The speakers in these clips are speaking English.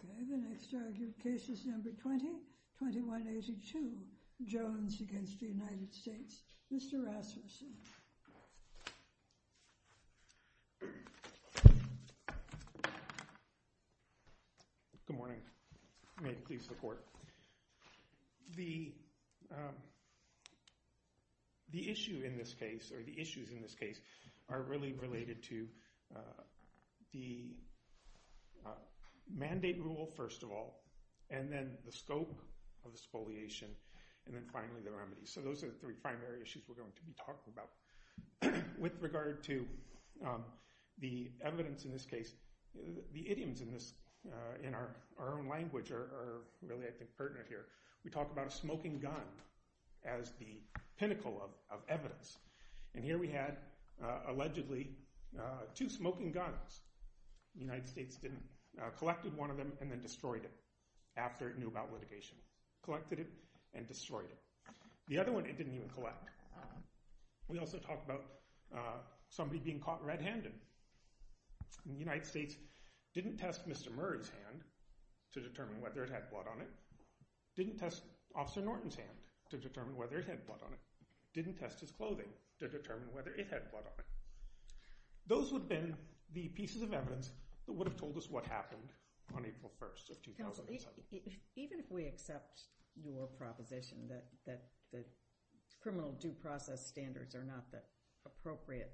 Okay, the next case is number 20, 2182 Jones against the United States. Mr. Rasmussen. Good morning. May it please the court. The issue in this case, or the issues in this case, are really related to the mandate rule, first of all, and then the scope of the spoliation. So those are the three primary issues we're going to be talking about. With regard to the evidence in this case, the idioms in this, in our own language are really, I think, pertinent here. We talk about a smoking gun as the pinnacle of evidence, and here we had, allegedly, two smoking guns. The United States didn't, collected one of them and then destroyed it after it knew about litigation. Collected it and destroyed it. The other one it didn't even collect. We also talk about somebody being caught red-handed. The United States didn't test Mr. Murray's hand to determine whether it had blood on it, didn't test Officer Norton's hand to determine whether it had blood on it, didn't test his clothing to determine whether it had blood on it. Those would then be pieces of evidence that would have told us what happened on April 1st of 2007. Even if we accept your proposition that the criminal due process standards are not the appropriate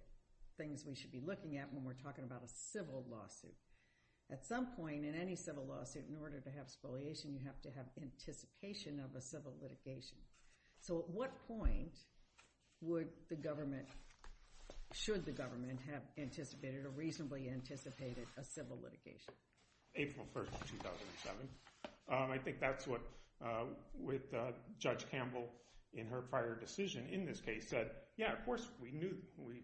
things we should be looking at when we're talking about a civil lawsuit, at some point in any civil lawsuit, in order to have spoliation, you have to have anticipation of a civil litigation. So at what point would the government, should the government have anticipated or reasonably anticipated a civil litigation? April 1st of 2007. I think that's what, with Judge Campbell in her prior decision in this case said, yeah, of course we knew, we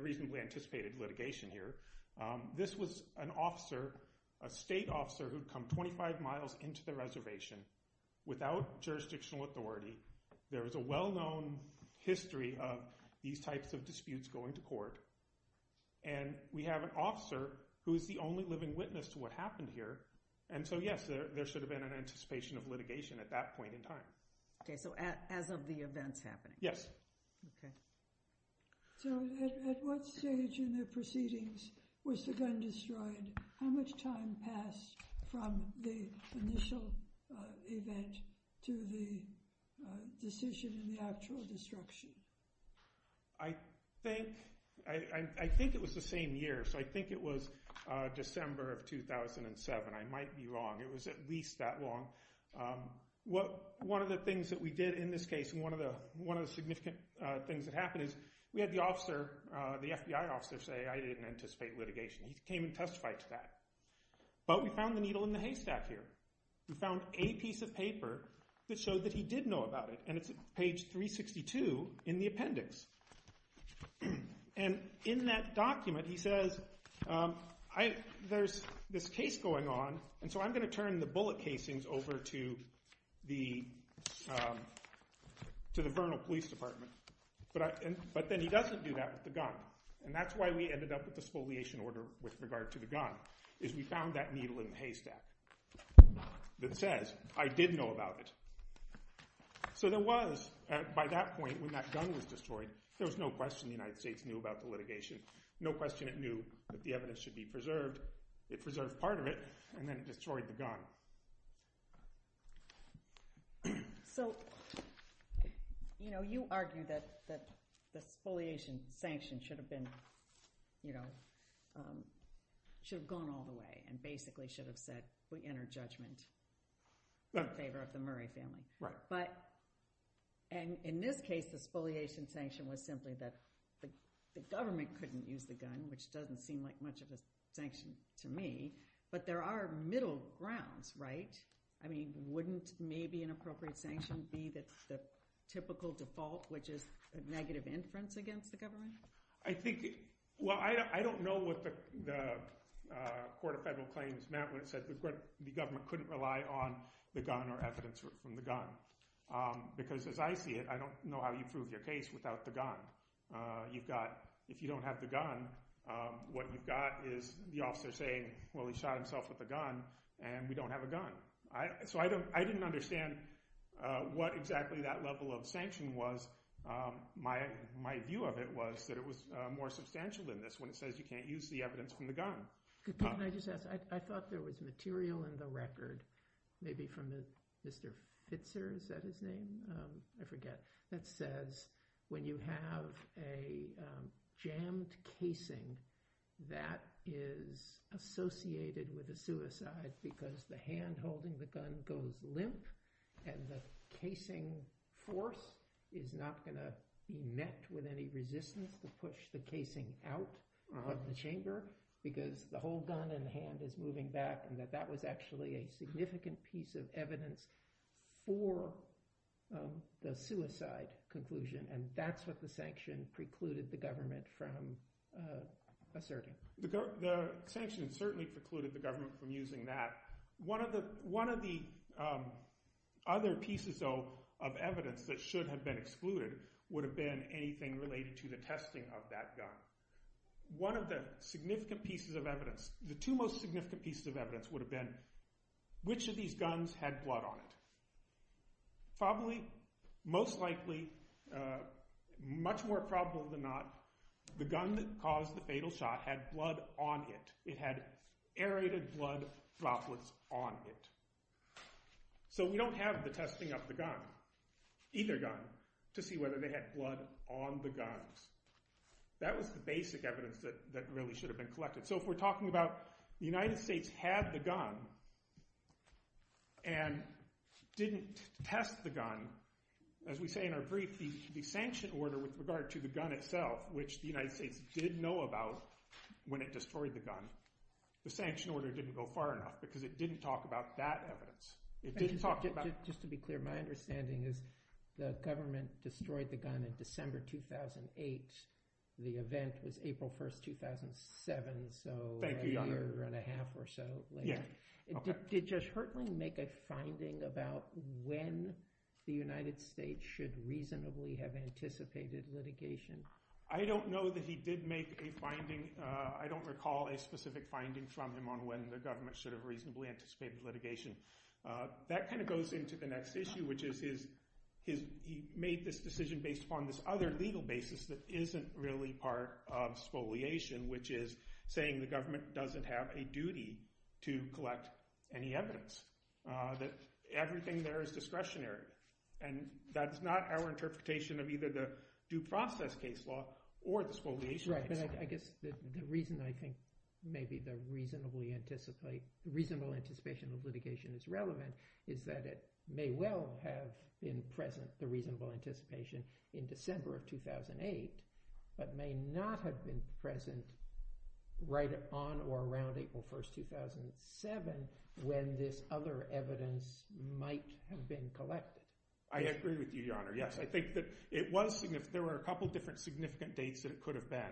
reasonably anticipated litigation here. This was an officer, a state officer who had come 25 miles into the reservation without jurisdictional authority. There is a well-known history of these types of disputes going to court. And we have an officer who is the only living witness to what happened here. And so yes, there should have been an anticipation of litigation at that point in time. Okay, so as of the events happening? Yes. Okay. So at what stage in the proceedings was the gun destroyed? How much time passed from the initial event to the decision in the actual destruction? I think it was the same year, so I think it was December of 2007. I might be wrong. It was at least that long. One of the things that we did in this case, and one of the significant things that happened is we had the officer, the FBI officer, say I didn't anticipate litigation. He came and testified to that. But we found the needle in the haystack here. We found a piece of paper that showed that he did know about it, and it's page 362 in the appendix. And in that document he says, there's this case going on, and so I'm going to turn the bullet casings over to the Vernal Police Department. But then he doesn't do that with the gun, and that's why we ended up with the spoliation order with regard to the gun, is we found that needle in the haystack that says, I did know about it. So there was, by that point, when that gun was destroyed, there was no question the United States knew about the litigation. No question it knew that the evidence should be preserved. It preserved part of it, and then it destroyed the gun. So, you know, you argue that the spoliation sanction should have been, you know, should have gone all the way, and basically should have said, we enter judgment in favor of the Murray family. But, and in this case, the spoliation sanction was simply that the government couldn't use the gun, which doesn't seem like much of a sanction to me. But there are middle grounds, right? I mean, wouldn't maybe an appropriate sanction be the typical default, which is negative inference against the government? Well, I don't know what the Court of Federal Claims meant when it said the government couldn't rely on the gun or evidence from the gun. Because as I see it, I don't know how you prove your case without the gun. You've got, if you don't have the gun, what you've got is the officer saying, well, he shot himself with a gun, and we don't have a gun. So I didn't understand what exactly that level of sanction was. My view of it was that it was more substantial than this when it says you can't use the evidence from the gun. Can I just ask, I thought there was material in the record, maybe from Mr. Pitzer, is that his name? I forget. That says when you have a jammed casing that is associated with a suicide because the hand holding the gun goes limp, and the casing force is not going to met with any resistance to push the casing out of the chamber. Because the whole gun in the hand is moving back, and that that was actually a significant piece of evidence for the suicide conclusion, and that's what the sanction precluded the government from asserting. The sanction certainly precluded the government from using that. One of the other pieces of evidence that should have been excluded would have been anything related to the testing of that gun. One of the significant pieces of evidence, the two most significant pieces of evidence would have been which of these guns had blood on it. Probably, most likely, much more probable than not, the gun that caused the fatal shot had blood on it. It had aerated blood droplets on it. So we don't have the testing of the gun, either gun, to see whether they had blood on the guns. That was the basic evidence that really should have been collected. So if we're talking about the United States had the gun and didn't test the gun, as we say in our brief, the sanction order with regard to the gun itself, which the United States did know about when it destroyed the gun, the sanction order didn't go far enough because it didn't talk about that evidence. Just to be clear, my understanding is the government destroyed the gun in December 2008. The event was April 1st, 2007, so a year and a half or so later. Did Judge Hertling make a finding about when the United States should reasonably have anticipated litigation? I don't know that he did make a finding. I don't recall a specific finding from him on when the government should have reasonably anticipated litigation. That kind of goes into the next issue, which is he made this decision based upon this other legal basis that isn't really part of spoliation, which is saying the government doesn't have a duty to collect any evidence, that everything there is discretionary. That's not our interpretation of either the due process case law or the spoliation case law. I agree with you, Your Honor. Yes, I think that there were a couple of different significant dates that it could have been.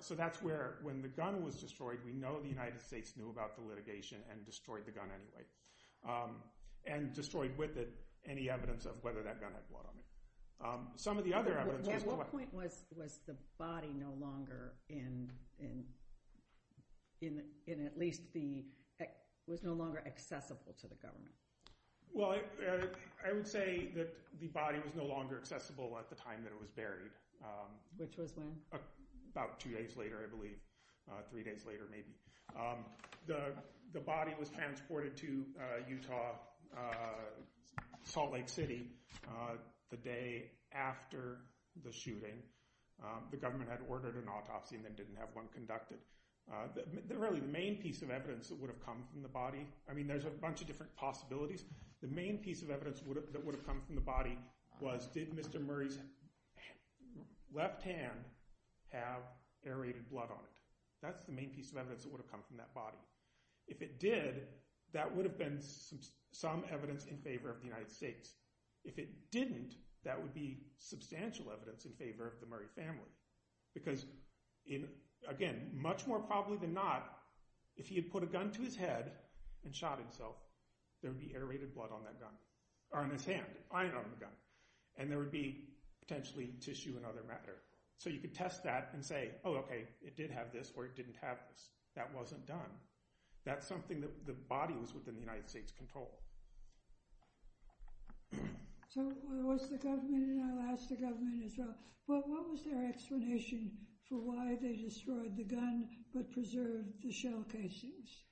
So that's where, when the gun was destroyed, we know the United States knew about the litigation and destroyed the gun anyway, and destroyed with it any evidence of whether that gun had blood on it. At what point was the body no longer accessible to the government? Well, I would say that the body was no longer accessible at the time that it was buried. Which was when? About two days later, I believe. Three days later, maybe. The body was transported to Utah, Salt Lake City, the day after the shooting. The government had ordered an autopsy and then didn't have one conducted. The main piece of evidence that would have come from the body was, did Mr. Murray's left hand have aerated blood on it? That's the main piece of evidence that would have come from that body. If it did, that would have been some evidence in favor of the United States. If it didn't, that would be substantial evidence in favor of the Murray family. Because, again, much more probably than not, if he had put a gun to his head and shot himself, there would be aerated blood on that gun. Or on his hand, iron on the gun. And there would be potentially tissue and other matter. So you could test that and say, oh, okay, it did have this or it didn't have this. That wasn't done. That's something that the body was within the United States' control. So was the government, and I'll ask the government as well, what was their explanation for why they destroyed the gun but preserved the shell casings?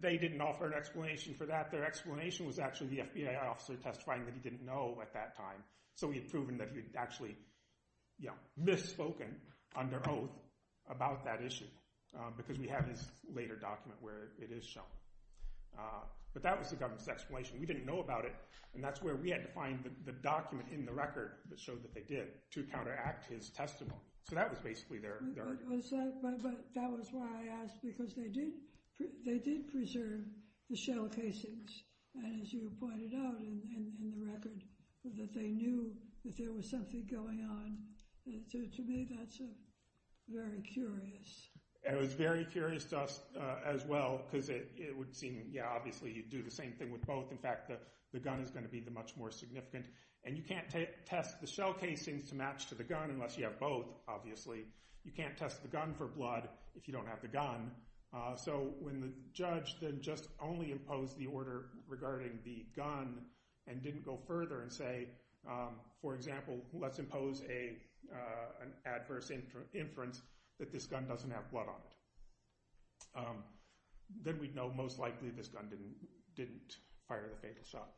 They didn't offer an explanation for that. Their explanation was actually the FBI officer testifying that he didn't know at that time. So we had proven that he had actually misspoken under oath about that issue. Because we have his later document where it is shown. But that was the government's explanation. We didn't know about it. And that's where we had to find the document in the record that showed that they did, to counteract his testimony. So that was basically their argument. But that was why I asked, because they did preserve the shell casings. And as you pointed out in the record, that they knew that there was something going on. To me, that's very curious. It was very curious to us as well, because it would seem, yeah, obviously you'd do the same thing with both. In fact, the gun is going to be the much more significant. And you can't test the shell casings to match to the gun unless you have both, obviously. You can't test the gun for blood if you don't have the gun. So when the judge then just only imposed the order regarding the gun and didn't go further and say, for example, let's impose an adverse inference that this gun doesn't have blood on it, then we'd know most likely this gun didn't fire the fatal shot.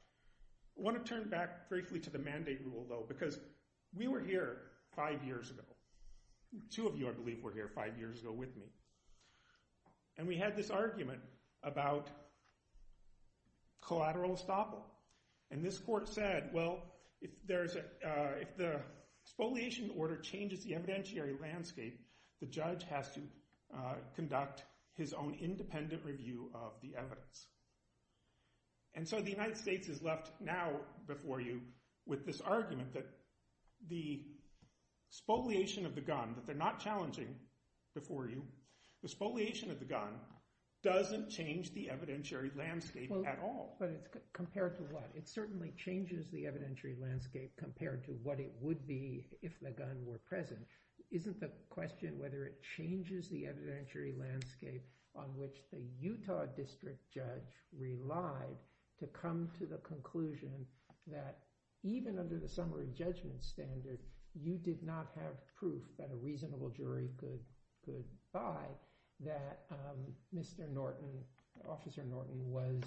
I want to turn back briefly to the mandate rule, though, because we were here five years ago. Two of you, I believe, were here five years ago with me. And we had this argument about collateral estoppel. And this court said, well, if the spoliation order changes the evidentiary landscape, the judge has to conduct his own independent review of the evidence. And so the United States is left now before you with this argument that the spoliation of the gun, that they're not challenging before you, the spoliation of the gun doesn't change the evidentiary landscape at all. But it's compared to what? It certainly changes the evidentiary landscape compared to what it would be if the gun were present. Isn't the question whether it changes the evidentiary landscape on which the Utah district judge relied to come to the conclusion that even under the summary judgment standard, you did not have proof that a reasonable jury could buy that Mr. Norton, Officer Norton was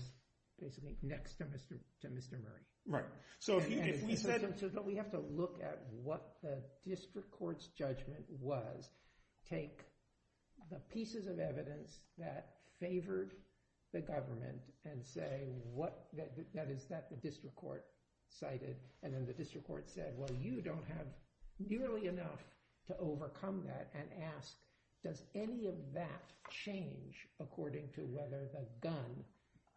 basically next to Mr. Murray. But we have to look at what the district court's judgment was, take the pieces of evidence that favored the government and say, is that the district court cited? And then the district court said, well, you don't have nearly enough to overcome that and asked, does any of that change according to whether the gun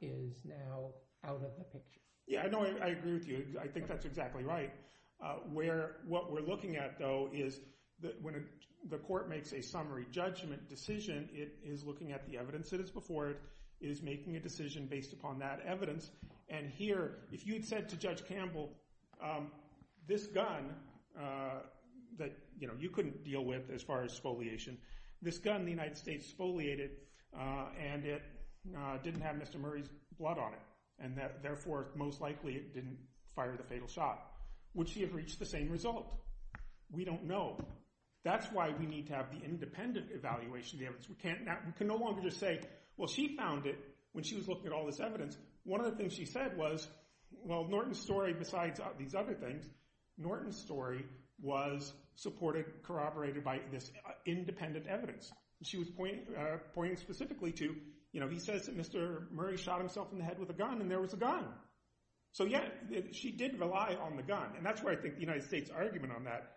is now out of the picture? Yeah, I know. I agree with you. I think that's exactly right. Where what we're looking at, though, is that when the court makes a summary judgment decision, it is looking at the evidence that is before it is making a decision based upon that evidence. And here, if you had said to Judge Campbell, this gun that you couldn't deal with without spoliation, this gun the United States spoliated and it didn't have Mr. Murray's blood on it and therefore most likely it didn't fire the fatal shot, would she have reached the same result? We don't know. That's why we need to have the independent evaluation of the evidence. We can no longer just say, well, she found it when she was looking at all this evidence. One of the things she said was, well, Norton's story, besides these other things, Norton's story was supported, corroborated by this independent evidence. She was pointing specifically to, you know, he says that Mr. Murray shot himself in the head with a gun and there was a gun. So, yeah, she did rely on the gun. And that's where I think the United States' argument on that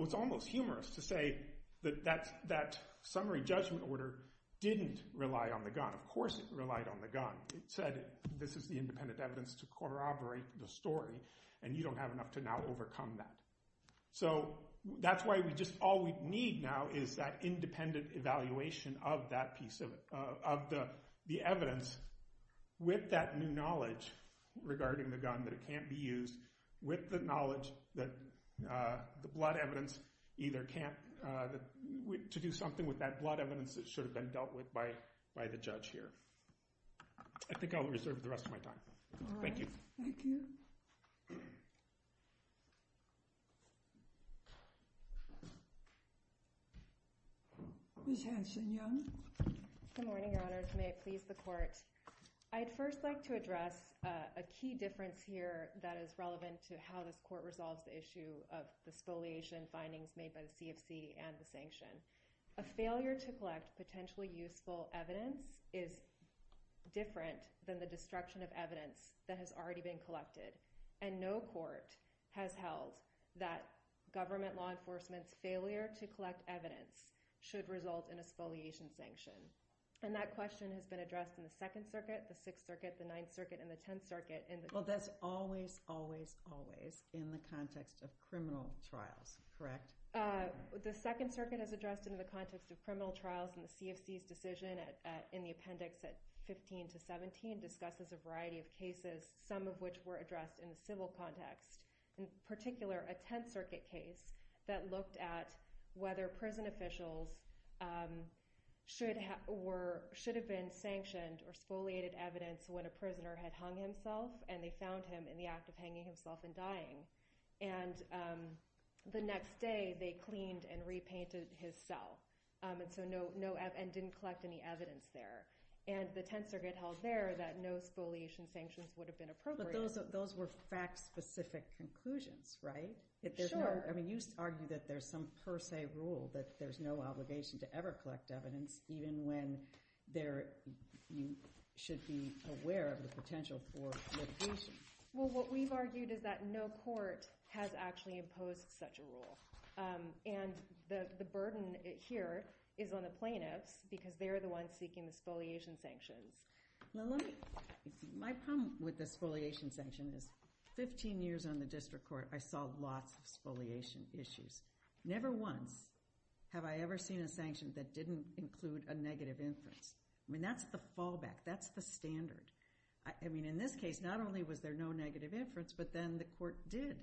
was almost humorous, to say that that summary judgment order didn't rely on the gun. Of course it relied on the gun. It said this is the independent evidence to corroborate the story and you don't have enough to now overcome that. So that's why we just, all we need now is that independent evaluation of that piece, of the evidence with that new knowledge regarding the gun that it can't be used, with the knowledge that the blood evidence either can't, to do something with that blood evidence that should have been dealt with by the judge here. I think I'll reserve the rest of my time. Thank you. Thank you. Ms. Hanson-Young. Good morning, Your Honors. May it please the Court. I'd first like to address a key difference here that is relevant to how this Court resolves the issue of the spoliation findings made by the CFC and the sanction. A failure to collect potentially useful evidence is different than the destruction of evidence that has already been collected. And no Court has held that government law enforcement's failure to collect evidence should result in a spoliation sanction. And that question has been addressed in the Second Circuit, the Sixth Circuit, the Ninth Circuit, and the Tenth Circuit. Well that's always, always, always in the context of criminal trials. Correct? The Second Circuit has addressed it in the context of criminal trials and the CFC's decision in the appendix at 15 to 17 discusses a variety of cases, all of which were addressed in the civil context. In particular, a Tenth Circuit case that looked at whether prison officials should have been sanctioned or spoliated evidence when a prisoner had hung himself and they found him in the act of hanging himself and dying. And the next day they cleaned and repainted his cell and didn't collect any evidence there. And the Tenth Circuit held there that no spoliation sanctions would have been appropriate. But those were fact-specific conclusions, right? Sure. I mean you argue that there's some per se rule that there's no obligation to ever collect evidence even when you should be aware of the potential for litigation. Well what we've argued is that no Court has actually imposed such a rule. And the burden here is on the plaintiffs because they are the ones seeking the spoliation sanctions. My problem with the spoliation sanctions is 15 years on the District Court I saw lots of spoliation issues. Never once have I ever seen a sanction that didn't include a negative inference. I mean that's the fallback, that's the standard. I mean in this case not only was there no negative inference but then the Court did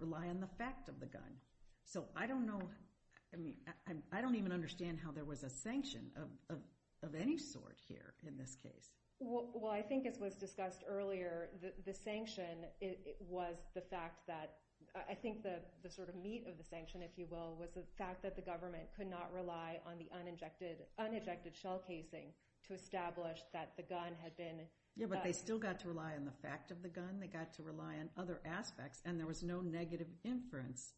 rely on the fact of the gun. So I don't know, I mean I don't even understand how there was a sanction of any sort here in this case. Well I think as was discussed earlier, the sanction was the fact that I think the sort of meat of the sanction if you will was the fact that the government could not rely on the un-injected shell casing to establish that the gun had been Yeah but they still got to rely on the fact of the gun, they got to rely on other aspects and there was no negative inference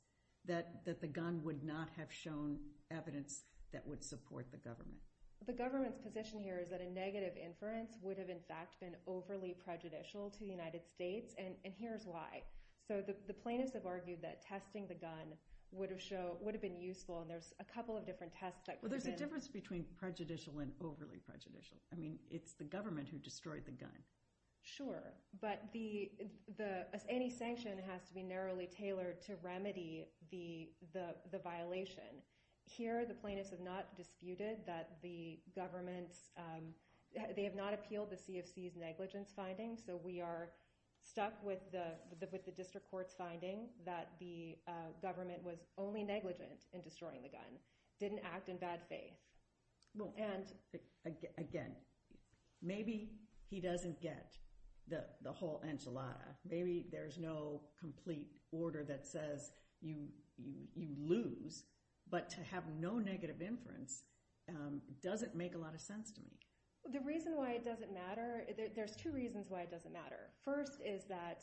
that the gun would not have shown evidence that would support the government. The government's position here is that a negative inference would have in fact been overly prejudicial to the United States and here's why. So the plaintiffs have argued that testing the gun would have been useful and there's a couple of different tests that could have been Well there's a difference between prejudicial and overly prejudicial. I mean it's the government who destroyed the gun. Sure, but any sanction has to be narrowly tailored to remedy the violation. Here the plaintiffs have not disputed that the government's they have not appealed the CFC's negligence findings so we are stuck with the district court's finding that the government was only negligent in destroying the gun. Didn't act in bad faith. And again, maybe he doesn't get the whole enchilada. Maybe there's no complete order that says you lose but to have no negative inference doesn't make a lot of sense to me. The reason why it doesn't matter, there's two reasons why it doesn't matter. First is that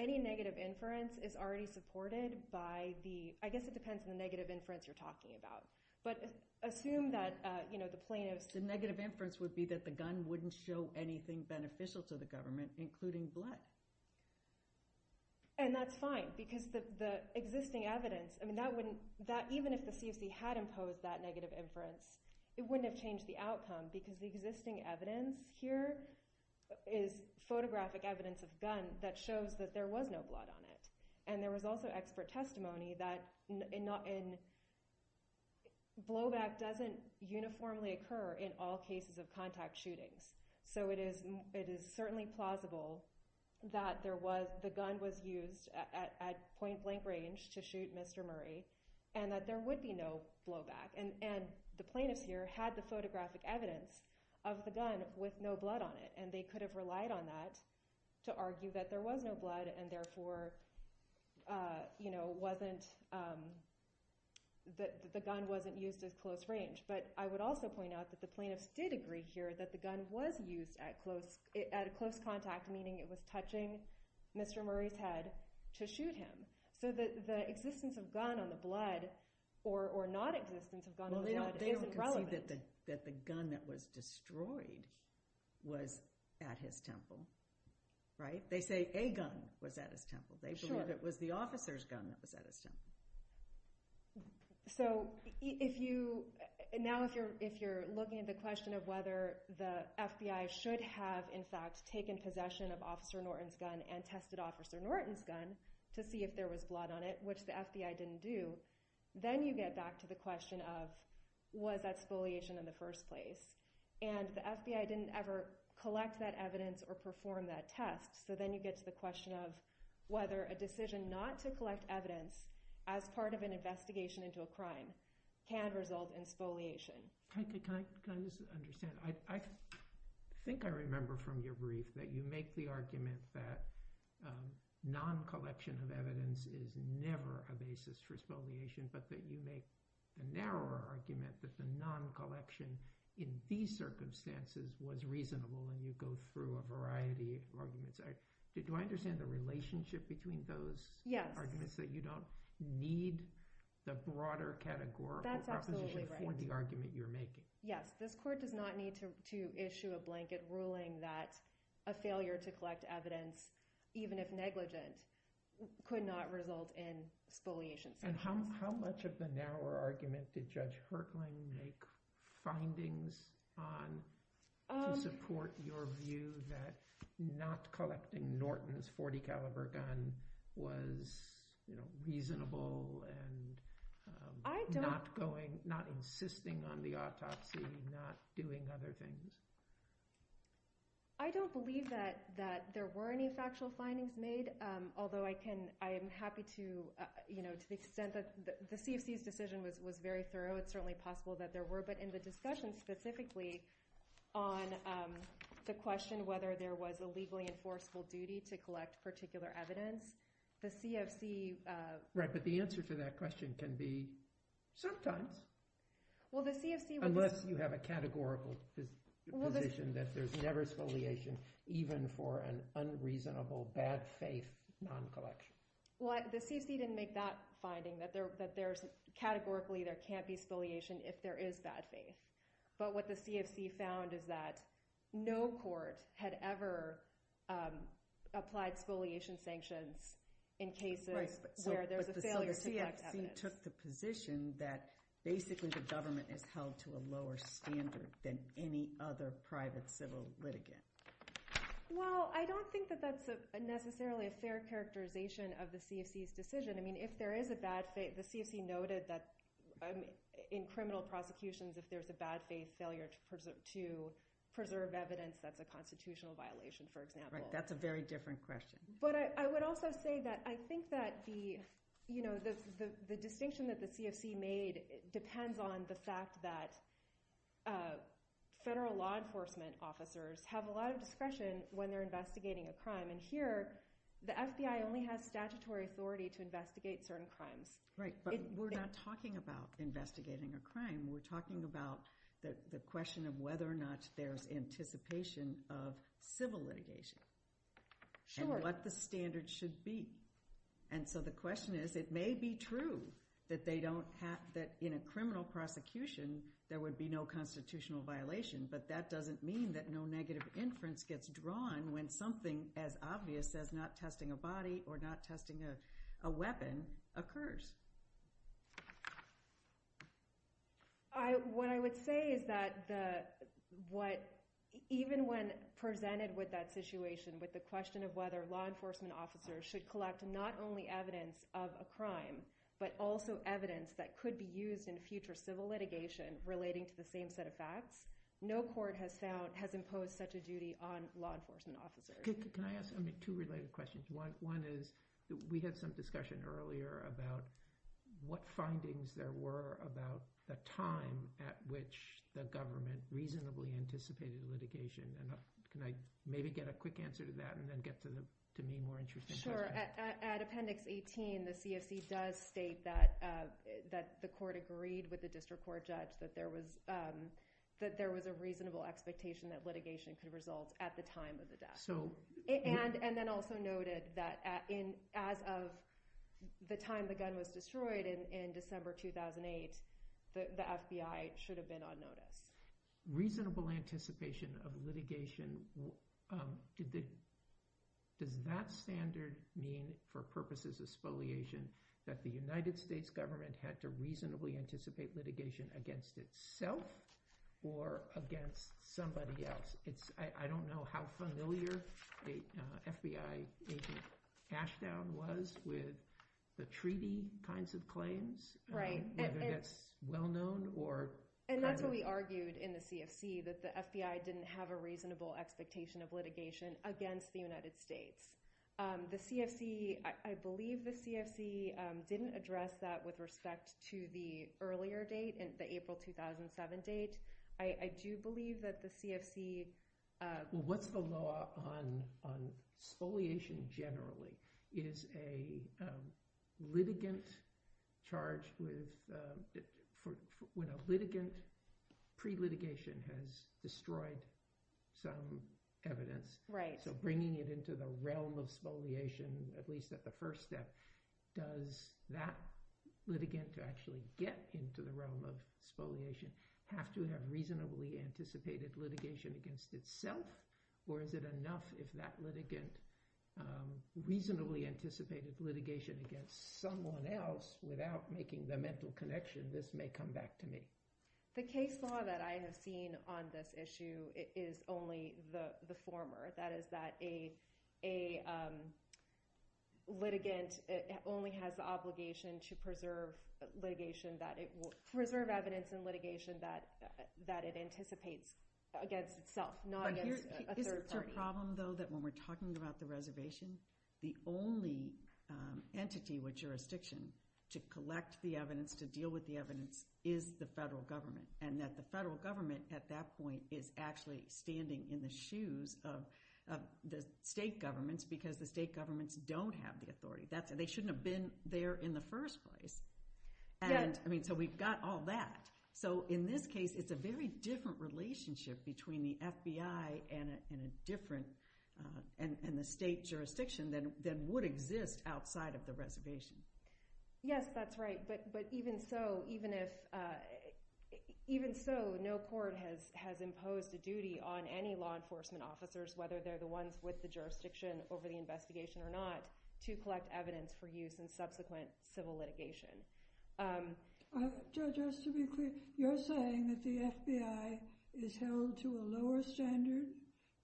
any negative inference is already supported by the that's the negative inference you're talking about. But assume that the plaintiffs The negative inference would be that the gun wouldn't show anything beneficial to the government including blood. And that's fine because the existing evidence even if the CFC had imposed that negative inference it wouldn't have changed the outcome because the existing evidence here is photographic evidence of gun that shows that there was no blood on it. And there was also expert testimony that blowback doesn't uniformly occur in all cases of contact shootings. So it is certainly plausible that the gun was used at point blank range to shoot Mr. Murray and that there would be no blowback. And the plaintiffs here had the photographic evidence of the gun with no blood on it. And they could have relied on that to argue that there was no blood and therefore the gun wasn't used at close range. But I would also point out that the plaintiffs did agree here that the gun was used at close contact meaning it was touching Mr. Murray's head to shoot him. So the existence of gun on the blood or non-existence of gun on the blood isn't relevant. They don't concede that the gun that was destroyed was at his temple. They say a gun was at his temple. They believe it was the officer's gun that was at his temple. So now if you're looking at the question of whether the FBI should have in fact taken possession of Officer Norton's gun and tested Officer Norton's gun to see if there was blood on it which the FBI didn't do, then you get back to the question of was that spoliation in the first place? And the FBI didn't ever collect that evidence or perform that test. So then you get to the question of whether a decision not to collect evidence as part of an investigation into a crime can result in spoliation. Can I just understand? I think I remember from your brief that you make the argument that non-collection of evidence is never a basis for spoliation but that you make a narrower argument that the non-collection in these circumstances was reasonable and you go through a variety of arguments. Do I understand the relationship between those arguments that you don't need the broader categorical proposition for the argument you're making? Yes. This court does not need to issue a blanket ruling that a failure to collect evidence, even if negligent, could not result in spoliation. And how much of the narrower argument did Judge Hertling make to support your view that not collecting Norton's .40 caliber gun was reasonable and not insisting on the autopsy, not doing other things? I don't believe that there were any factual findings made, although I am happy to the extent that the CFC's decision was very thorough, it's certainly possible that there were. But in the discussion specifically on the question whether there was a legally enforceable duty to collect particular evidence, the CFC... Right, but the answer to that question can be sometimes. Unless you have a categorical position that there's never spoliation even for an unreasonable, bad faith non-collection. Well, the CFC didn't make that finding, that categorically there can't be spoliation if there is bad faith. But what the CFC found is that no court had ever applied spoliation sanctions in cases where there's a failure to collect evidence. So the CFC took the position that basically the government is held to a lower standard than any other private civil litigant. Well, I don't think that that's necessarily a fair characterization of the CFC's decision. I mean, if there is a bad faith... The CFC noted that in criminal prosecutions if there's a bad faith failure to preserve evidence that's a constitutional violation, for example. Right, that's a very different question. But I would also say that I think that the distinction that the CFC made depends on the fact that federal law enforcement officers have a lot of discretion when they're investigating a crime. The FBI only has statutory authority to investigate certain crimes. Right, but we're not talking about investigating a crime. We're talking about the question of whether or not there's anticipation of civil litigation and what the standards should be. And so the question is, it may be true that in a criminal prosecution there would be no constitutional violation, but that doesn't mean that no negative inference gets drawn when something as obvious as not testing a body or not testing a weapon occurs. What I would say is that even when presented with that situation with the question of whether law enforcement officers should collect not only evidence of a crime but also evidence that could be used in future civil litigation relating to the same set of facts, no court has imposed such a duty on law enforcement officers. Can I ask two related questions? One is, we had some discussion earlier about what findings there were about the time at which the government reasonably anticipated litigation. Can I maybe get a quick answer to that and then get to the more interesting questions? Sure. At Appendix 18, the CFC does state that the court agreed with the district court judge that there was a reasonable expectation that litigation could result at the time of the death. And then also noted that as of the time the gun was destroyed in December 2008, the FBI should have been on notice. Reasonable anticipation of litigation, does that standard mean for purposes of spoliation that the United States government had to reasonably anticipate litigation against itself or against somebody else? I don't know how familiar the FBI agent Ashdown was with the treaty kinds of claims, whether that's well-known or kind of... And that's what we argued in the CFC, that the FBI didn't have a reasonable expectation of litigation against the United States. The CFC, I believe the CFC didn't address that with respect to the earlier date, the April 2007 date. I do believe that the CFC... Well, what's the law on spoliation generally? Is a litigant charged with... When a litigant pre-litigation has destroyed some evidence, so bringing it into the realm of spoliation, at least at the first step, does that litigant to actually get into the realm of spoliation have to have reasonably anticipated litigation against itself? Or is it enough if that litigant reasonably anticipated litigation against someone else without making the mental connection, this may come back to me? The case law that I have seen on this issue is only the former. That is that a litigant only has the obligation to preserve evidence in litigation that it anticipates against itself, not against a third party. Isn't your problem, though, that when we're talking about the reservation, the only entity with jurisdiction to collect the evidence, to deal with the evidence, is the federal government? And that the federal government at that point is actually standing in the shoes of the state governments because the state governments don't have the authority. They shouldn't have been there in the first place. So we've got all that. So in this case, it's a very different relationship between the FBI and the state jurisdiction than would exist outside of the reservation. Yes, that's right. But even so, no court has imposed a duty on any law enforcement officers, whether they're the ones with the jurisdiction over the investigation or not, to collect evidence for use in subsequent civil litigation. Judge, just to be clear, you're saying that the FBI is held to a lower standard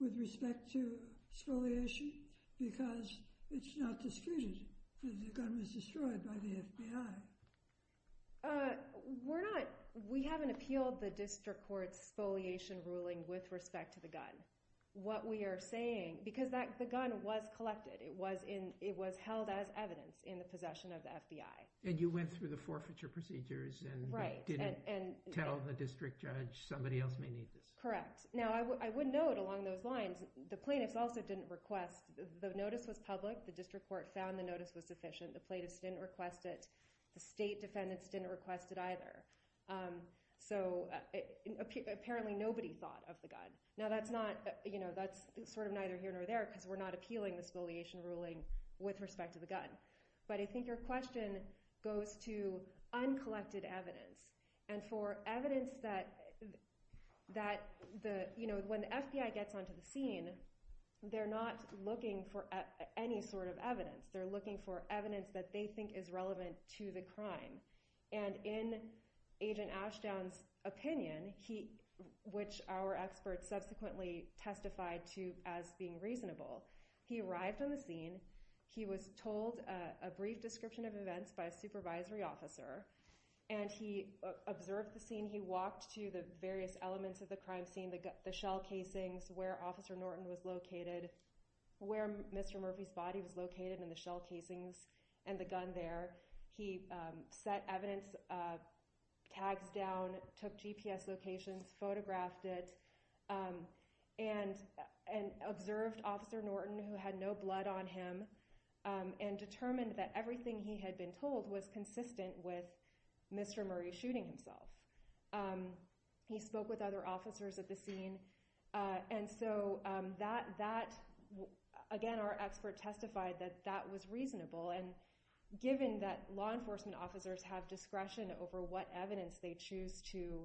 with respect to exfoliation because it's not disputed that the gun was destroyed by the FBI. We're not. We haven't appealed the district court's exfoliation ruling with respect to the gun. What we are saying, because the gun was collected. It was held as evidence in the possession of the FBI. And you went through the forfeiture procedures and didn't tell the district judge somebody else may need this. Correct. Now, I would note along those lines, the plaintiffs also didn't request. The notice was public. The district court found the notice was sufficient. The plaintiffs didn't request it. The state defendants didn't request it either. So apparently nobody thought of the gun. Now, that's sort of neither here nor there because we're not appealing the exfoliation ruling with respect to the gun. But I think your question goes to uncollected evidence. And for evidence that, they're not looking for any sort of evidence. They're looking for evidence that they think is relevant to the crime. And in Agent Ashdown's opinion, which our experts subsequently testified to as being reasonable, he arrived on the scene. He was told a brief description of events by a supervisory officer. And he observed the scene. He walked to the various elements of the crime scene, the shell casings, where Officer Norton was located, where Mr. Murphy's body was located and the shell casings and the gun there. He set evidence, tags down, took GPS locations, photographed it, and observed Officer Norton, who had no blood on him, and determined that everything he had been told was consistent with Mr. Murray shooting himself. He spoke with other officers at the scene. And so that, again, our expert testified that that was reasonable. And given that law enforcement officers have discretion over what evidence they choose to,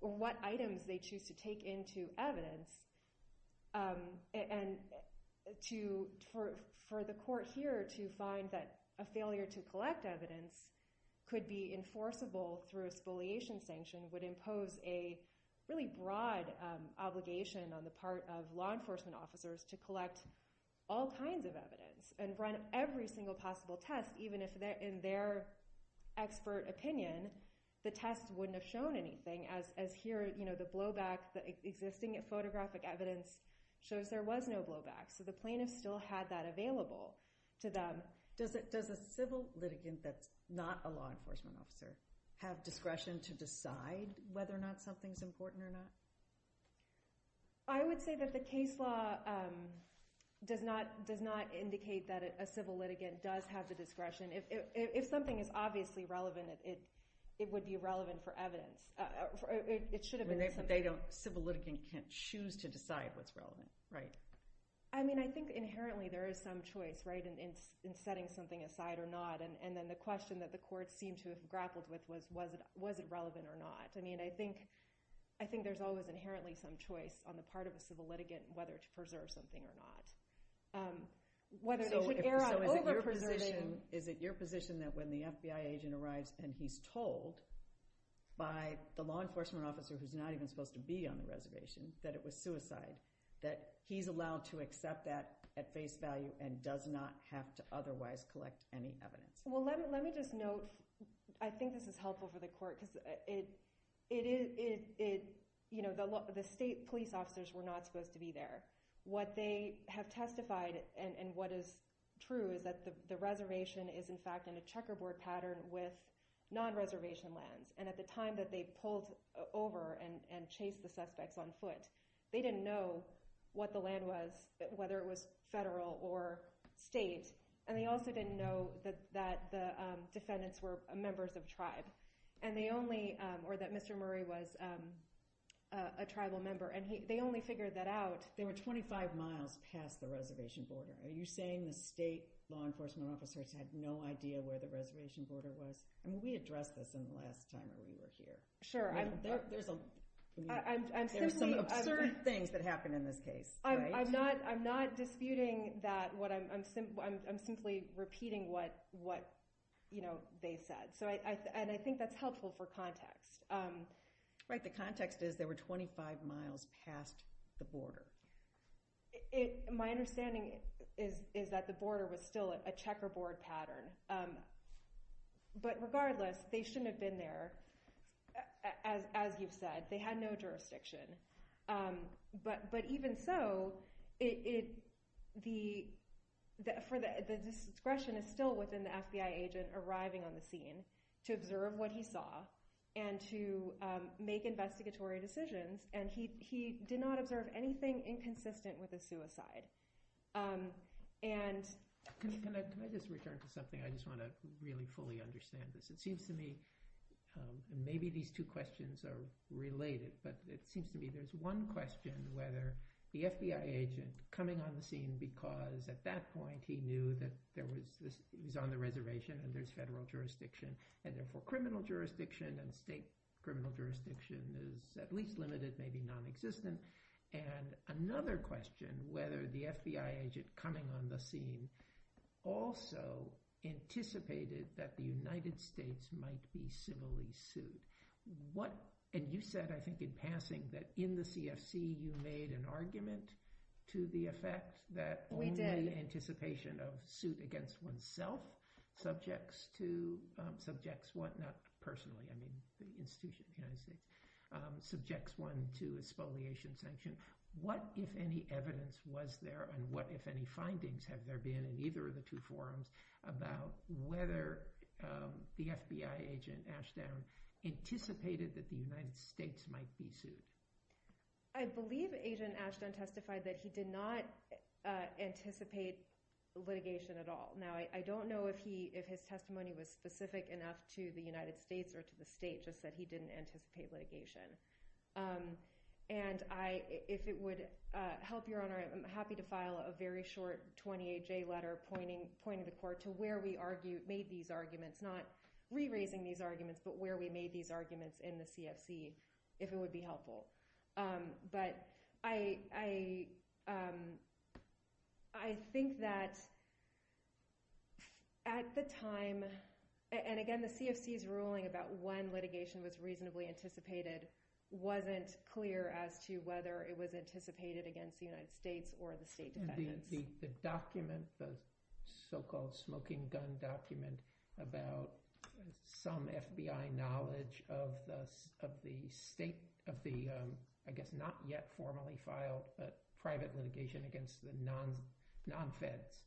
or what items they choose to take into evidence, and for the court here to find that a failure to collect evidence could be enforceable through a spoliation sanction would impose a really broad obligation on the part of law enforcement officers to collect all kinds of evidence from every single possible test, even if in their expert opinion the test wouldn't have shown anything, as here the blowback, the existing photographic evidence shows there was no blowback. So the plaintiffs still had that available to them. Does a civil litigant that's not a law enforcement officer have discretion to decide whether or not something's important or not? I would say that the case law does not indicate that a civil litigant does have the discretion. If something is obviously relevant, it would be relevant for evidence. It should have been. But a civil litigant can't choose to decide what's relevant, right? I mean, I think inherently there is some choice, right, in setting something aside or not. And then the question that the court seemed to have grappled with was was it relevant or not. I mean, I think there's always inherently some choice on the part of a civil litigant to decide whether something or not. Whether they should err on over-preserving... So is it your position that when the FBI agent arrives and he's told by the law enforcement officer who's not even supposed to be on the reservation that it was suicide, that he's allowed to accept that at face value and does not have to otherwise collect any evidence? Well, let me just note, I think this is helpful for the court because it is, you know, the state police officers were not supposed to be there. But they have testified, and what is true is that the reservation is in fact in a checkerboard pattern with non-reservation lands. And at the time that they pulled over and chased the suspects on foot, they didn't know what the land was, whether it was federal or state. And they also didn't know that the defendants were members of a tribe. And they only... Or that Mr. Murray was a tribal member. And they only figured that out... 25 miles past the reservation border. Are you saying the state law enforcement officers had no idea where the reservation border was? I mean, we addressed this in the last time that we were here. Sure. There's some absurd things that happened in this case. I'm not disputing that. I'm simply repeating what they said. And I think that's helpful for context. Right, the context is there were 25 miles past the border. My understanding is that the border was still a checkerboard pattern. But regardless, they shouldn't have been there. As you've said, they had no jurisdiction. But even so, the discretion is still within the FBI agent arriving on the scene to observe what he saw and to make investigatory decisions. And he did not observe anything that was inconsistent with a suicide. And... Can I just return to something? I just want to really fully understand this. It seems to me maybe these two questions are related. But it seems to me there's one question whether the FBI agent coming on the scene because at that point he knew that he was on the reservation and there's federal jurisdiction and therefore criminal jurisdiction and state criminal jurisdiction is at least limited, maybe non-existent. And another question, whether the FBI agent coming on the scene also anticipated that the United States might be civilly sued. And you said, I think in passing, that in the CFC you made an argument to the effect that... We did. ...only anticipation of suit against oneself subjects to... subjects what not personally, I mean the institution of the United States, subjects one to a spoliation sanction. What, if any, evidence was there and what, if any, findings have there been in either of the two forums about whether the FBI agent Ashdown anticipated that the United States might be sued? I believe Agent Ashdown testified that he did not anticipate litigation at all. Now, I don't know if his testimony was specific enough to the United States or to the state, just that he didn't anticipate litigation. And I, if it would help your honor, I'm happy to file a very short 28-J letter pointing the court to where we argued, made these arguments, not re-raising these arguments, but where we made these arguments in the CFC, if it would be helpful. But I... I think that... at the time, and again, the CFC's ruling that one litigation was reasonably anticipated wasn't clear as to whether it was anticipated against the United States or the state defendants. The document, the so-called smoking gun document about some FBI knowledge of the state, of the, I guess, not yet formally filed private litigation against the non-Feds,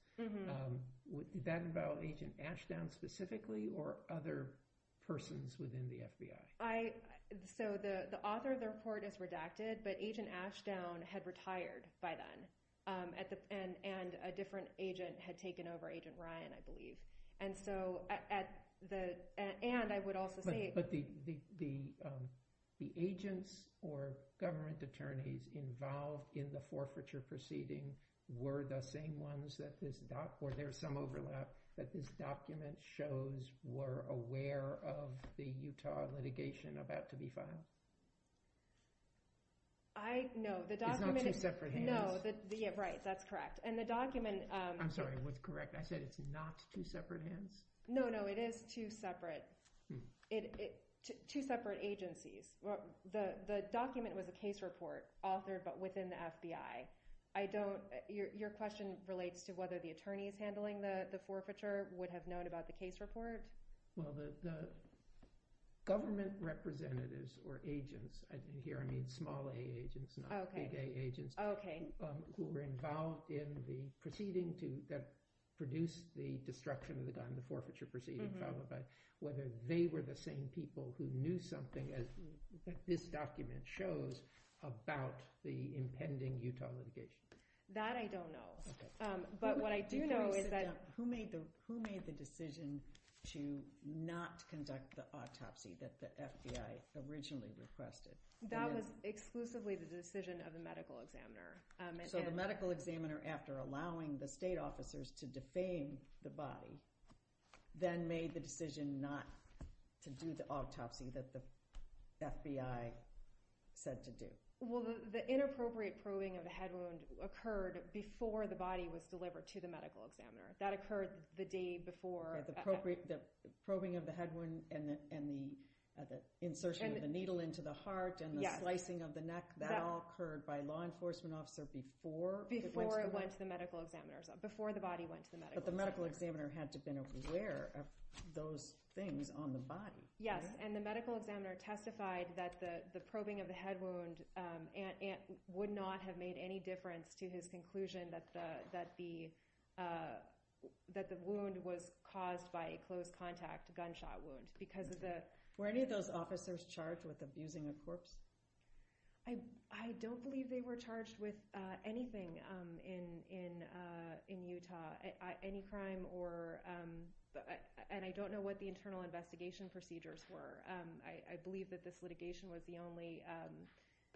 would that involve Agent Ashdown specifically or other persons within the FBI? I... So the author of the report is redacted, but Agent Ashdown had retired by then. And a different agent had taken over, Agent Ryan, I believe. And so at the... And I would also say... But the agents or government attorneys involved in the forfeiture proceeding were the same ones that this doc... or there's some overlap that this document shows were aware of the Utah litigation about to be filed. I... No, the document... It's not two separate hands. No, the... Yeah, right, that's correct. And the document... I'm sorry, what's correct? I said it's not two separate hands? No, no, it is two separate. It... Two separate agencies. The document was a case report authored but within the FBI. I don't... Your question relates to whether the attorneys handling the forfeiture would have known about the case report? Well, the... government representatives or agents, and here I mean small A agents, not big A agents, who were involved in the proceeding that produced the destruction of the gun, the forfeiture proceeding, whether they were the same people who knew something that this document shows about the impending Utah litigation. That I don't know. But what I do know is that... Who made the decision to not conduct the autopsy that the FBI originally requested? That was exclusively the decision of the medical examiner. So the medical examiner, after allowing the state officers to defame the body, then made the decision not to do the autopsy that the FBI said to do? Well, the inappropriate probing of the head wound occurred before the body was delivered to the medical examiner. That occurred the day before... The probing of the head wound and the insertion of the needle into the heart and the slicing of the neck, that all occurred by law enforcement officer before... Before it went to the medical examiner. Before the body went to the medical examiner. But the medical examiner had to have been aware of those things on the body. Yes, and the medical examiner testified that the probing was based on the conclusion that the wound was caused by a close contact gunshot wound because of the... Were any of those officers charged with abusing a corpse? I don't believe they were charged with anything in Utah. Any crime or... And I don't know what the internal investigation procedures were. I believe that this litigation was the only...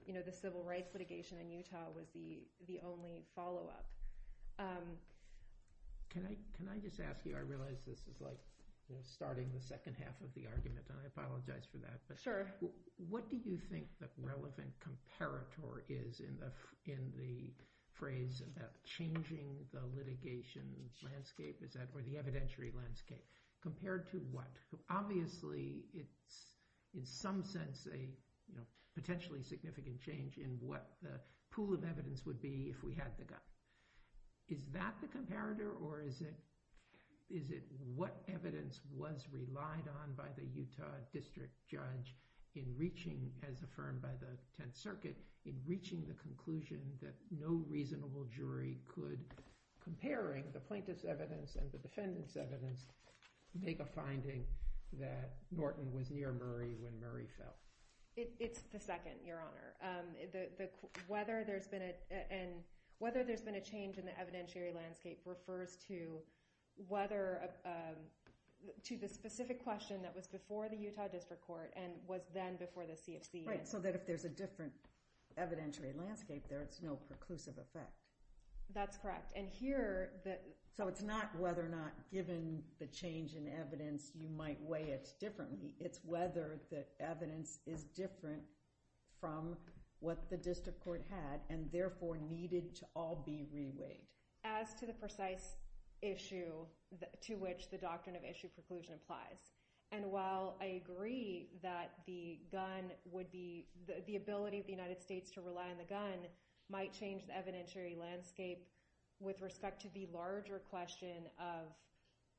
There was no follow-up. Can I just ask you, I realize this is like starting the second half of the argument, and I apologize for that. Sure. What do you think the relevant comparator is in the phrase about changing the litigation landscape or the evidentiary landscape compared to what? Obviously, it's in some sense a potentially significant change in what the pool of evidence would be if we had the gun. Is that the comparator or is it what evidence was relied on by the Utah district judge in reaching, as affirmed by the 10th Circuit, in reaching the conclusion that no reasonable jury could, comparing the plaintiff's evidence and the defendant's evidence, make a finding that Norton was near Murray when Murray fell? It's the second, Your Honor. Whether there's been a, and whether there's been a change in the evidentiary landscape refers to whether, to the specific question that was before the Utah district court and was then before the CFC. Right, so that if there's a different evidentiary landscape there, it's no preclusive effect. That's correct. And here, So it's not whether or not given the change in evidence you might weigh it differently. It's whether the evidence is different from what the district court had and therefore needed to all be re-weighed. As to the precise issue to which the doctrine of issue preclusion applies. And while I agree that the gun would be, the ability of the United States to rely on the gun might change the evidentiary landscape with respect to the larger question of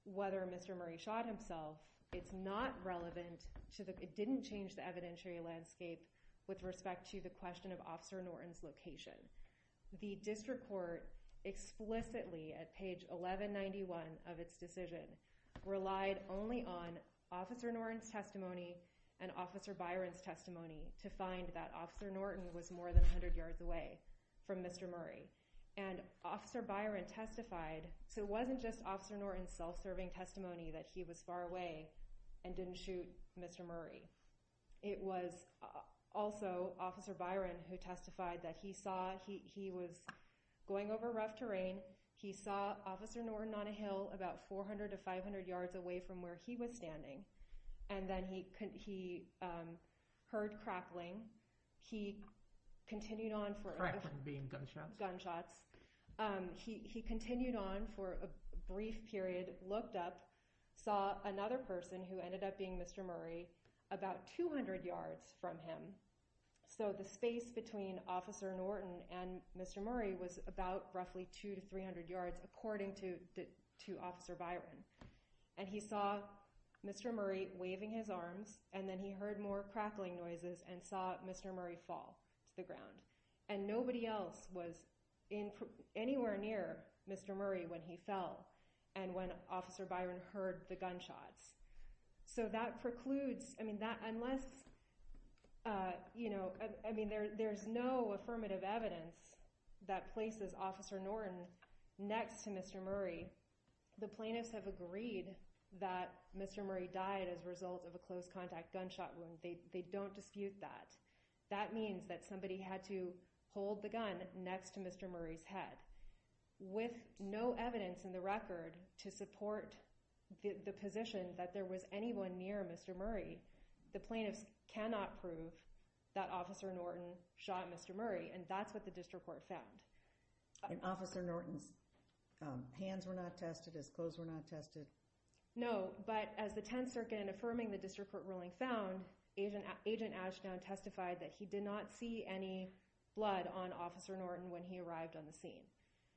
whether Mr. Murray shot himself, it's not relevant to the, it didn't change the evidentiary landscape with respect to the question of Officer Norton's location. The district court explicitly at page 1191 of its decision relied only on Officer Norton's testimony and Officer Byron's testimony to find that Officer Norton was more than 100 yards away from Mr. Murray. And Officer Byron testified so it wasn't just Officer Norton's self-serving testimony that he was far away and didn't shoot Mr. Murray. It was also Officer Byron who testified that he saw, he was going over rough terrain, he saw Officer Norton on a hill about 400 to 500 yards away from where he was standing. And then he heard crackling, he continued on for, crackling being gunshots, gunshots. He continued on for a brief period, looked up, saw another person who ended up being Mr. Murray about 200 yards from him. So the space between Officer Norton and Mr. Murray was about roughly 200 to 300 yards according to Officer Byron. And he saw Mr. Murray waving his arms and then he heard more crackling noises and saw Mr. Murray fall to the ground. And nobody else was anywhere near Mr. Murray when he fell and when Officer Byron heard the gunshots. So that precludes, I mean that unless, you know, I mean there's no affirmative evidence that places Officer Norton next to Mr. Murray. The plaintiffs have agreed that Mr. Murray died as a result of a close contact gunshot wound. They don't dispute that. That means that somebody had to hold the gun next to Mr. Murray's head with no evidence in the record to support the position that there was anyone near Mr. Murray. The plaintiffs cannot prove that Officer Norton shot Mr. Murray and that's what the District Court found. And Officer Norton's hands were not tested, his clothes were not tested? No, but as the 10th Circuit in affirming the District Court ruling found, Agent Ashdown testified that he did not see any blood on Officer Norton when he arrived on the scene.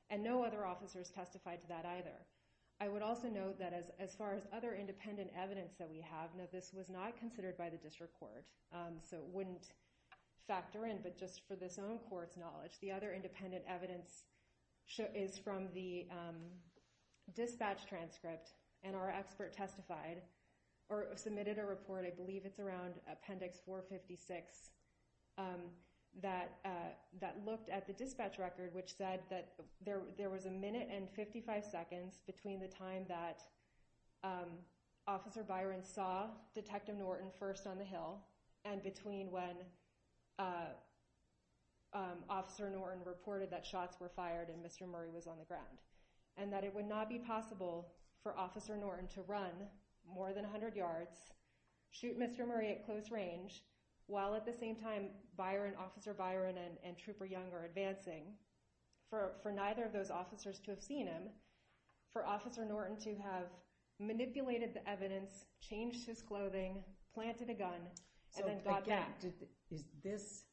And no other officers testified to that either. I would also note that as far as other independent evidence that we have, now this was not considered by the District Court so it wouldn't factor in, but just for this own Court's knowledge, the other independent evidence is from the dispatch transcript and our expert testified or submitted a report, I believe it's around Appendix 456 that looked at the dispatch record which said that there was a minute and 55 seconds between the time that Officer Byron saw Detective Norton first on the hill and between when Officer Norton reported that shots were fired and Mr. Murray was on the ground. And that it would not be possible for Officer Norton to run more than 100 yards, shoot Mr. Murray at close range, while at the same time Byron, Officer Byron and Trooper Young are advancing, for neither of those officers to have seen him for Officer Norton to have manipulated the evidence, changed his clothing, planted a gun and then got back. So again, is this,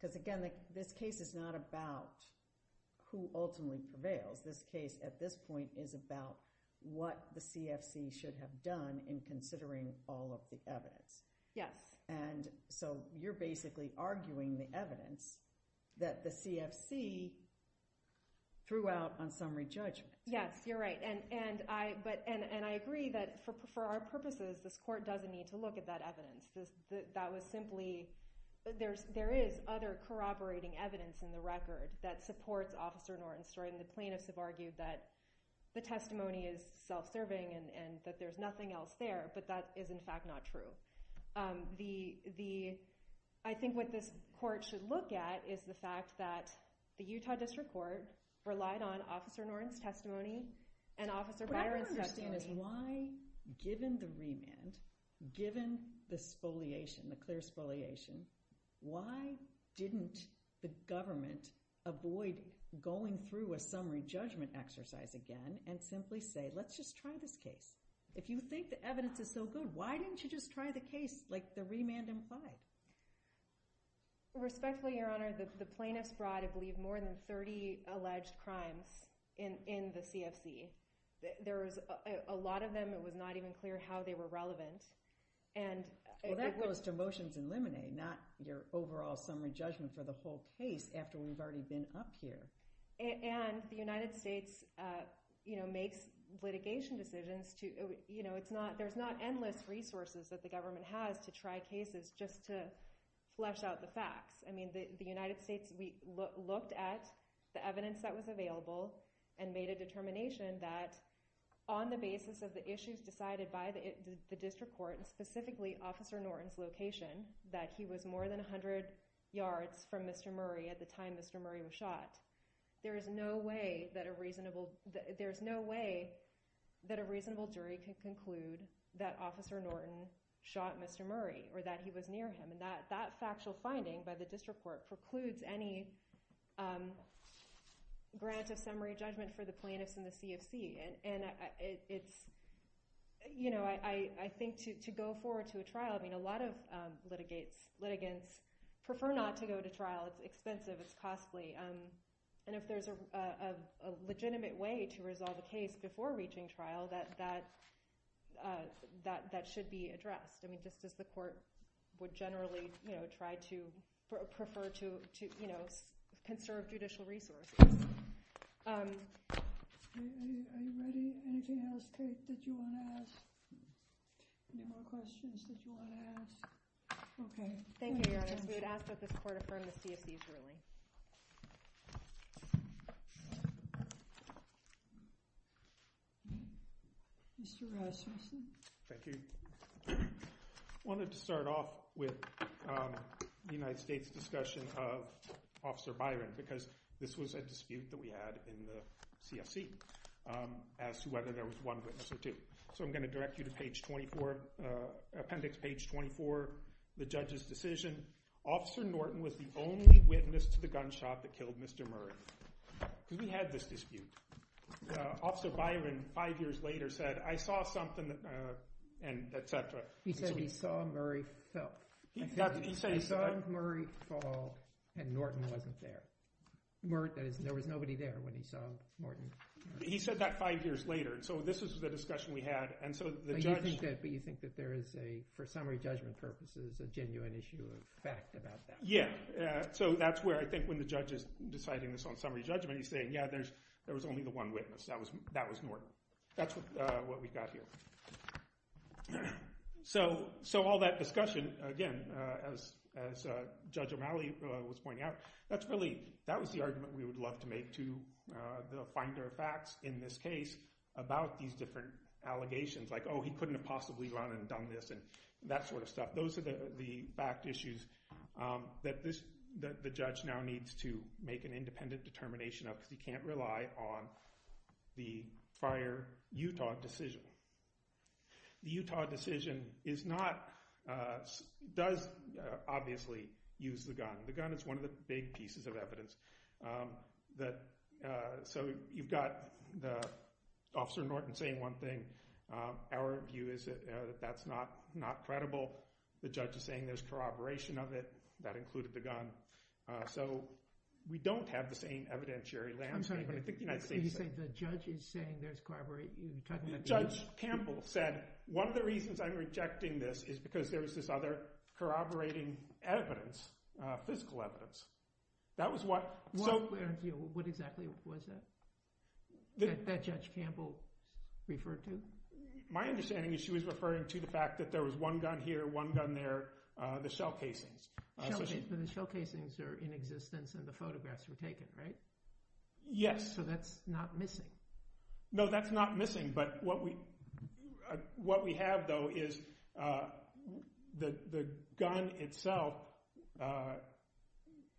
because again, this case is not about who ultimately prevails. This case, at this point, is about what the CFC should have done in considering all of the evidence. Yes. And so, you're basically arguing the evidence that the CFC threw out on summary judgment. Yes, you're right. And I agree that for our purposes, this court doesn't need to look at that evidence. That was simply, there is other corroborating evidence in the record that supports Officer Norton's story and the plaintiffs have argued that the testimony is self-serving and that there's nothing else there, but that is in fact not true. I think what this court should look at is the fact that the Utah District Court relied on Officer Norton's testimony and Officer Byron's testimony. What I don't understand is why, given the remand, given the spoliation, the clear spoliation, why didn't the government avoid going through a summary judgment exercise again and simply say, let's just try this case? If you think the evidence is so good, why didn't you just try the case like the remand implied? Respectfully, Your Honor, the plaintiffs brought, I believe, more than 30 alleged crimes in the CFC. A lot of them, it was not even clear how they were relevant. That goes to motions and limine, not your overall summary judgment for the whole case after we've already been up here. The United States makes litigation decisions. There's not endless resources that the government has to try cases just to flesh out the facts. The United States looked at the evidence that was available and made a determination that on the basis of the issues decided by the district court, specifically Officer Norton's location, that he was more than 100 yards from Mr. Murray at the time Mr. Murray was shot, there is no way that a reasonable jury could conclude that Officer Norton shot Mr. Murray or that he was near him. That factual finding by the district court precludes any grant of summary judgment for the plaintiffs and the CFC. I think to go forward to a trial, a lot of litigants prefer not to go to trial. It's expensive. It's costly. If there's a legitimate way to resolve a case before reaching trial, that should be addressed. Just as the court would generally try to conserve judicial resources. Are you ready? Anything else that you want to ask? Any more questions that you want to ask? Okay. Thank you, Your Honor. We would ask court affirm the CFC's ruling. Mr. Rasmussen. Thank you. I wanted to start off with the United States discussion of the murder of Officer Byron because this was a dispute that we had in the CFC as to whether there was one witness or two. I'm going to direct you to appendix page 24, the judge's decision. Officer Norton was the only witness to the gunshot that killed Mr. Murray. We had this dispute. Officer Byron five years later said, I saw something, etc. He said he saw Murray fall and Norton wasn't there. There was nobody there when he saw Norton. He said that five years later. This was the discussion we had. You think there is, for summary judgment purposes, a genuine issue of fact about that? Yeah. That's where I think when the judge is deciding this on summary judgment he's saying there was only the one witness. That was Norton. That's what we got here. All that discussion, again, as Judge O'Malley was pointing out, that was the argument we would love to make to the Finder of Facts in this case about these different allegations. Like, oh, he couldn't have possibly run and done this and that sort of stuff. Those are the fact issues that the judge now needs to make an independent determination of because he can't rely on the fire Utah decision. The Utah decision does obviously use the gun. The gun is one of the big pieces of evidence. So you've got Officer Norton saying one thing. Our view is that that's not credible. The judge is saying there's corroboration of it. That included the gun. So we don't have the same evidence. Judge Campbell said one of the reasons I'm rejecting this is because there's this other corroborating evidence, physical evidence. That was what... What exactly was that? That Judge Campbell referred to? My understanding is she was referring to the fact that there was one gun here, one gun there, and there were the shell casings. The shell casings are in existence and the photographs were taken, right? Yes. So that's not missing? No, that's not missing. But what we have, though, is the gun itself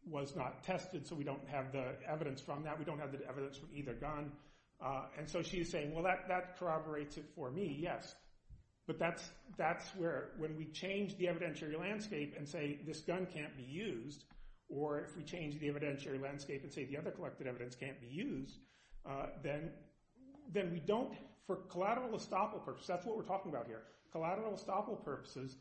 was not tested, so we don't have the evidence from that. We don't have the evidence that. So if we change the evidentiary landscape and say this gun can't be used, or if we change the evidentiary landscape and say the other collected evidence can't be used, then we don't... For collateral estoppel purposes, that's what we're talking about here, for collateral estoppel purposes,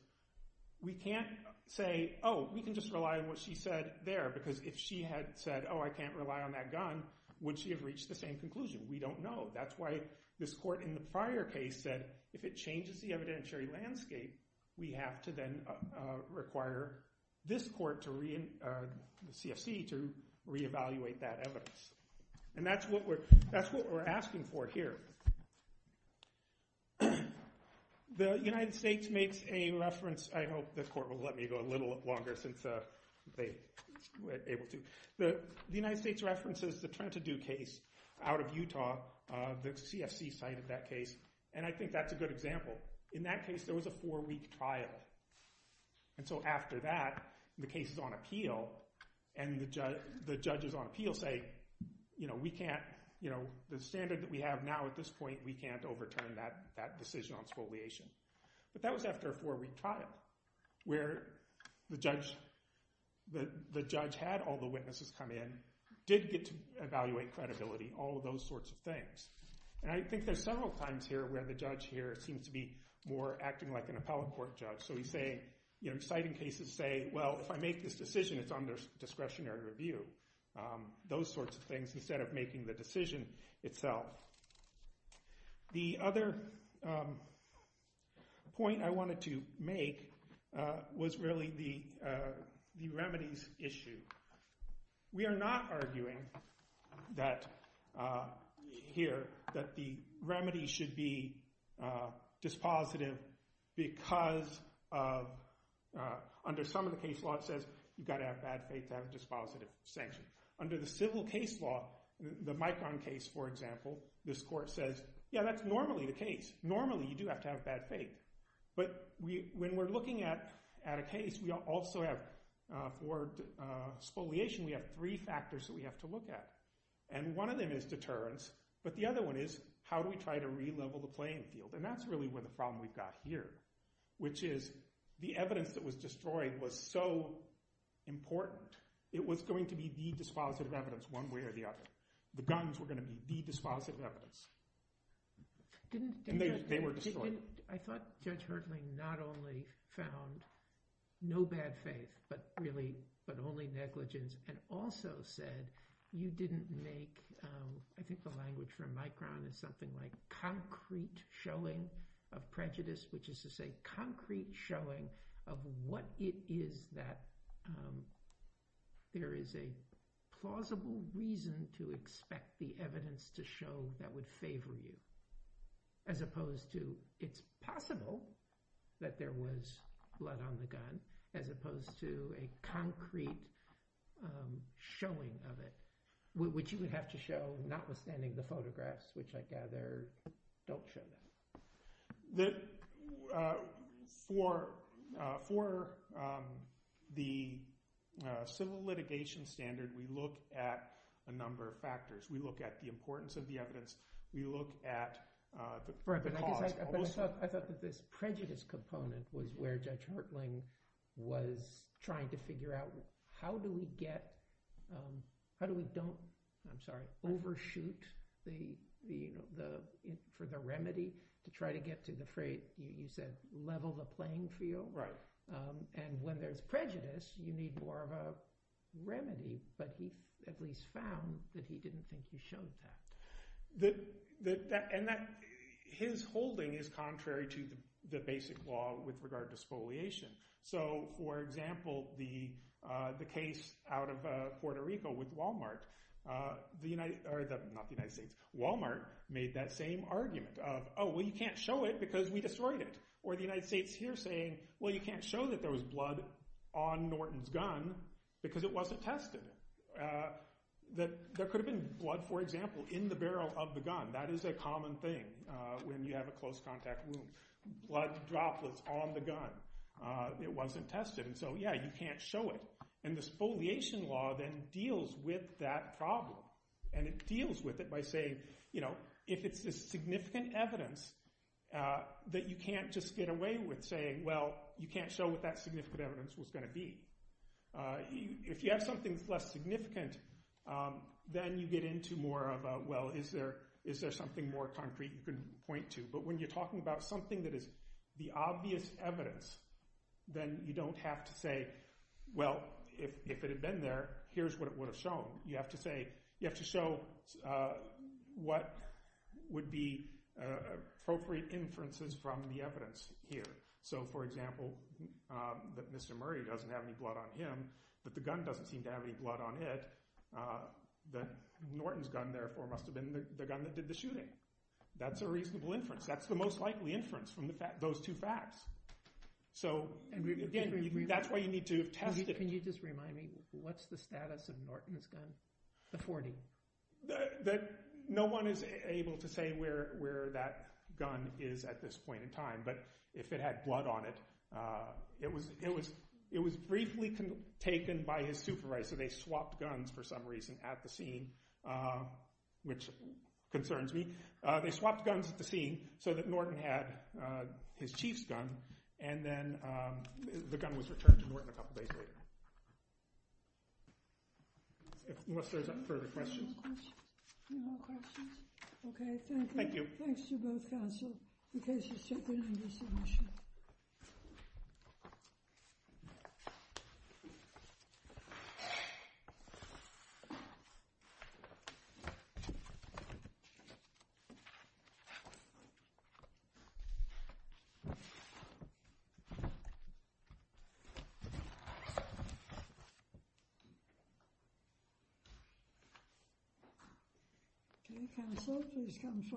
we can't say, oh, we can just rely on what she said there, because if she had said, oh, I can't rely on that gun, would she have reached the same conclusion? We don't know. That's why this court in the prior case said if it changes the evidentiary landscape, know. The United States makes a reference, I hope the court will let me go a little longer since they were able to, the United States references the Trentadue case out of Utah, the CFC cited that case, and I think that's a good example. In that case there was a four-week trial, and so after that, the case is on appeal, and the judges on appeal say, you know, we can't, you know, the standard that we have now at this point, we can't overturn that decision on exfoliation. But that was after a four-week trial, where the judge had all the witnesses come in, did get to evaluate credibility, all those sorts of things. And I think there's several times here where the judge here seems to be more acting like an appellate court judge, so he's saying, citing cases say, well, if I make this decision, it's under discretionary review, those sorts of things, instead of making the decision itself. The other point I wanted to make was really the idea here that the remedy should be dispositive because under some of the case law, it says you gotta have bad faith to have a dispositive sanction. Under the civil case law, the Micron case, for example, this court says, yeah, that's normally the case. Normally, you do have to have bad faith. But when we're looking at a case, we also have for spoliation, we have three factors that we have to look at. And one of them is deterrence, but the other one is how do we try to relevel the playing field? And that's really the problem we've got here, which is the evidence that was destroyed was so important. It was going to be the dispositive evidence one way or the other. The guns were going to be the dispositive evidence. And they were destroyed. I thought Judge Hertling not only found no bad faith, but only negligence and also said you didn't make, I think the language from Micron is something like concrete showing of prejudice, which is to say concrete showing of what it is that there is a plausible reason to expect the evidence to show that would favor you, as opposed to it's possible that there was blood on the gun as opposed to a concrete showing of it, which you would have to show not withstanding the photographs, which I gather don't show that. For the civil litigation that we have, we look at a number of factors. We look at the importance of the evidence. We look at the cause. I thought this prejudice component was where Judge Hertling was trying to figure out how do we get, how do we don't overshoot the, for the remedy to try to get to the remedy. But he at least found that he didn't think he showed that. And that his holding is contrary to the basic law with regard to exfoliation. So, for example, the case out of Puerto Rico with Walmart, not the United States, Walmart made that same argument of, oh, well, you can't show it because we haven't tested it. There could have been blood, for example, in the barrel of the gun. That is a common thing when you have a close contact wound. Blood droplets on the gun. It wasn't tested. So, yeah, you can't show it. And the exfoliation law then deals with that problem and it deals with it by saying, you know, if it's a significant evidence that you can't just get away with saying, well, you can't show what that significant evidence was going to be. If you have something less significant, then you get into more about, well, is there something more concrete you can point to? But when you're talking about something that is the obvious evidence, then you don't have to say, well, if it had been there, here's what it would have shown. You have to show what would be appropriate inferences from the evidence here. So, for example, that Mr. Murray doesn't have any blood on him but the gun doesn't seem to have any blood on it, then Norton's gun, therefore, must have been the gun that did the shooting. That's a reasonable inference. That's the most likely inference from those two facts. So, again, that's why you need to have tested it. Can you just remind me, what's the status of Norton's gun? The 40. No one is able to say where that gun is at this point in time, but if it had blood on it, it was briefly taken by his supervisor. They swapped guns for some reason at the scene, which concerns me. They swapped guns at the scene so that Norton had his chief's gun and then the gun was returned to Norton a couple days later. Unless there are further questions. Any more questions? Okay. Thank you. Thanks to both counsel. In case there's something I missed. Thank you. Thank you. Thank you. Okay. Thank you. I have it here. They put it in his jacket. I have it in my jacket. I have it in my jacket. I have it in my jacket. They put it in me. They said I have it there. They will bring me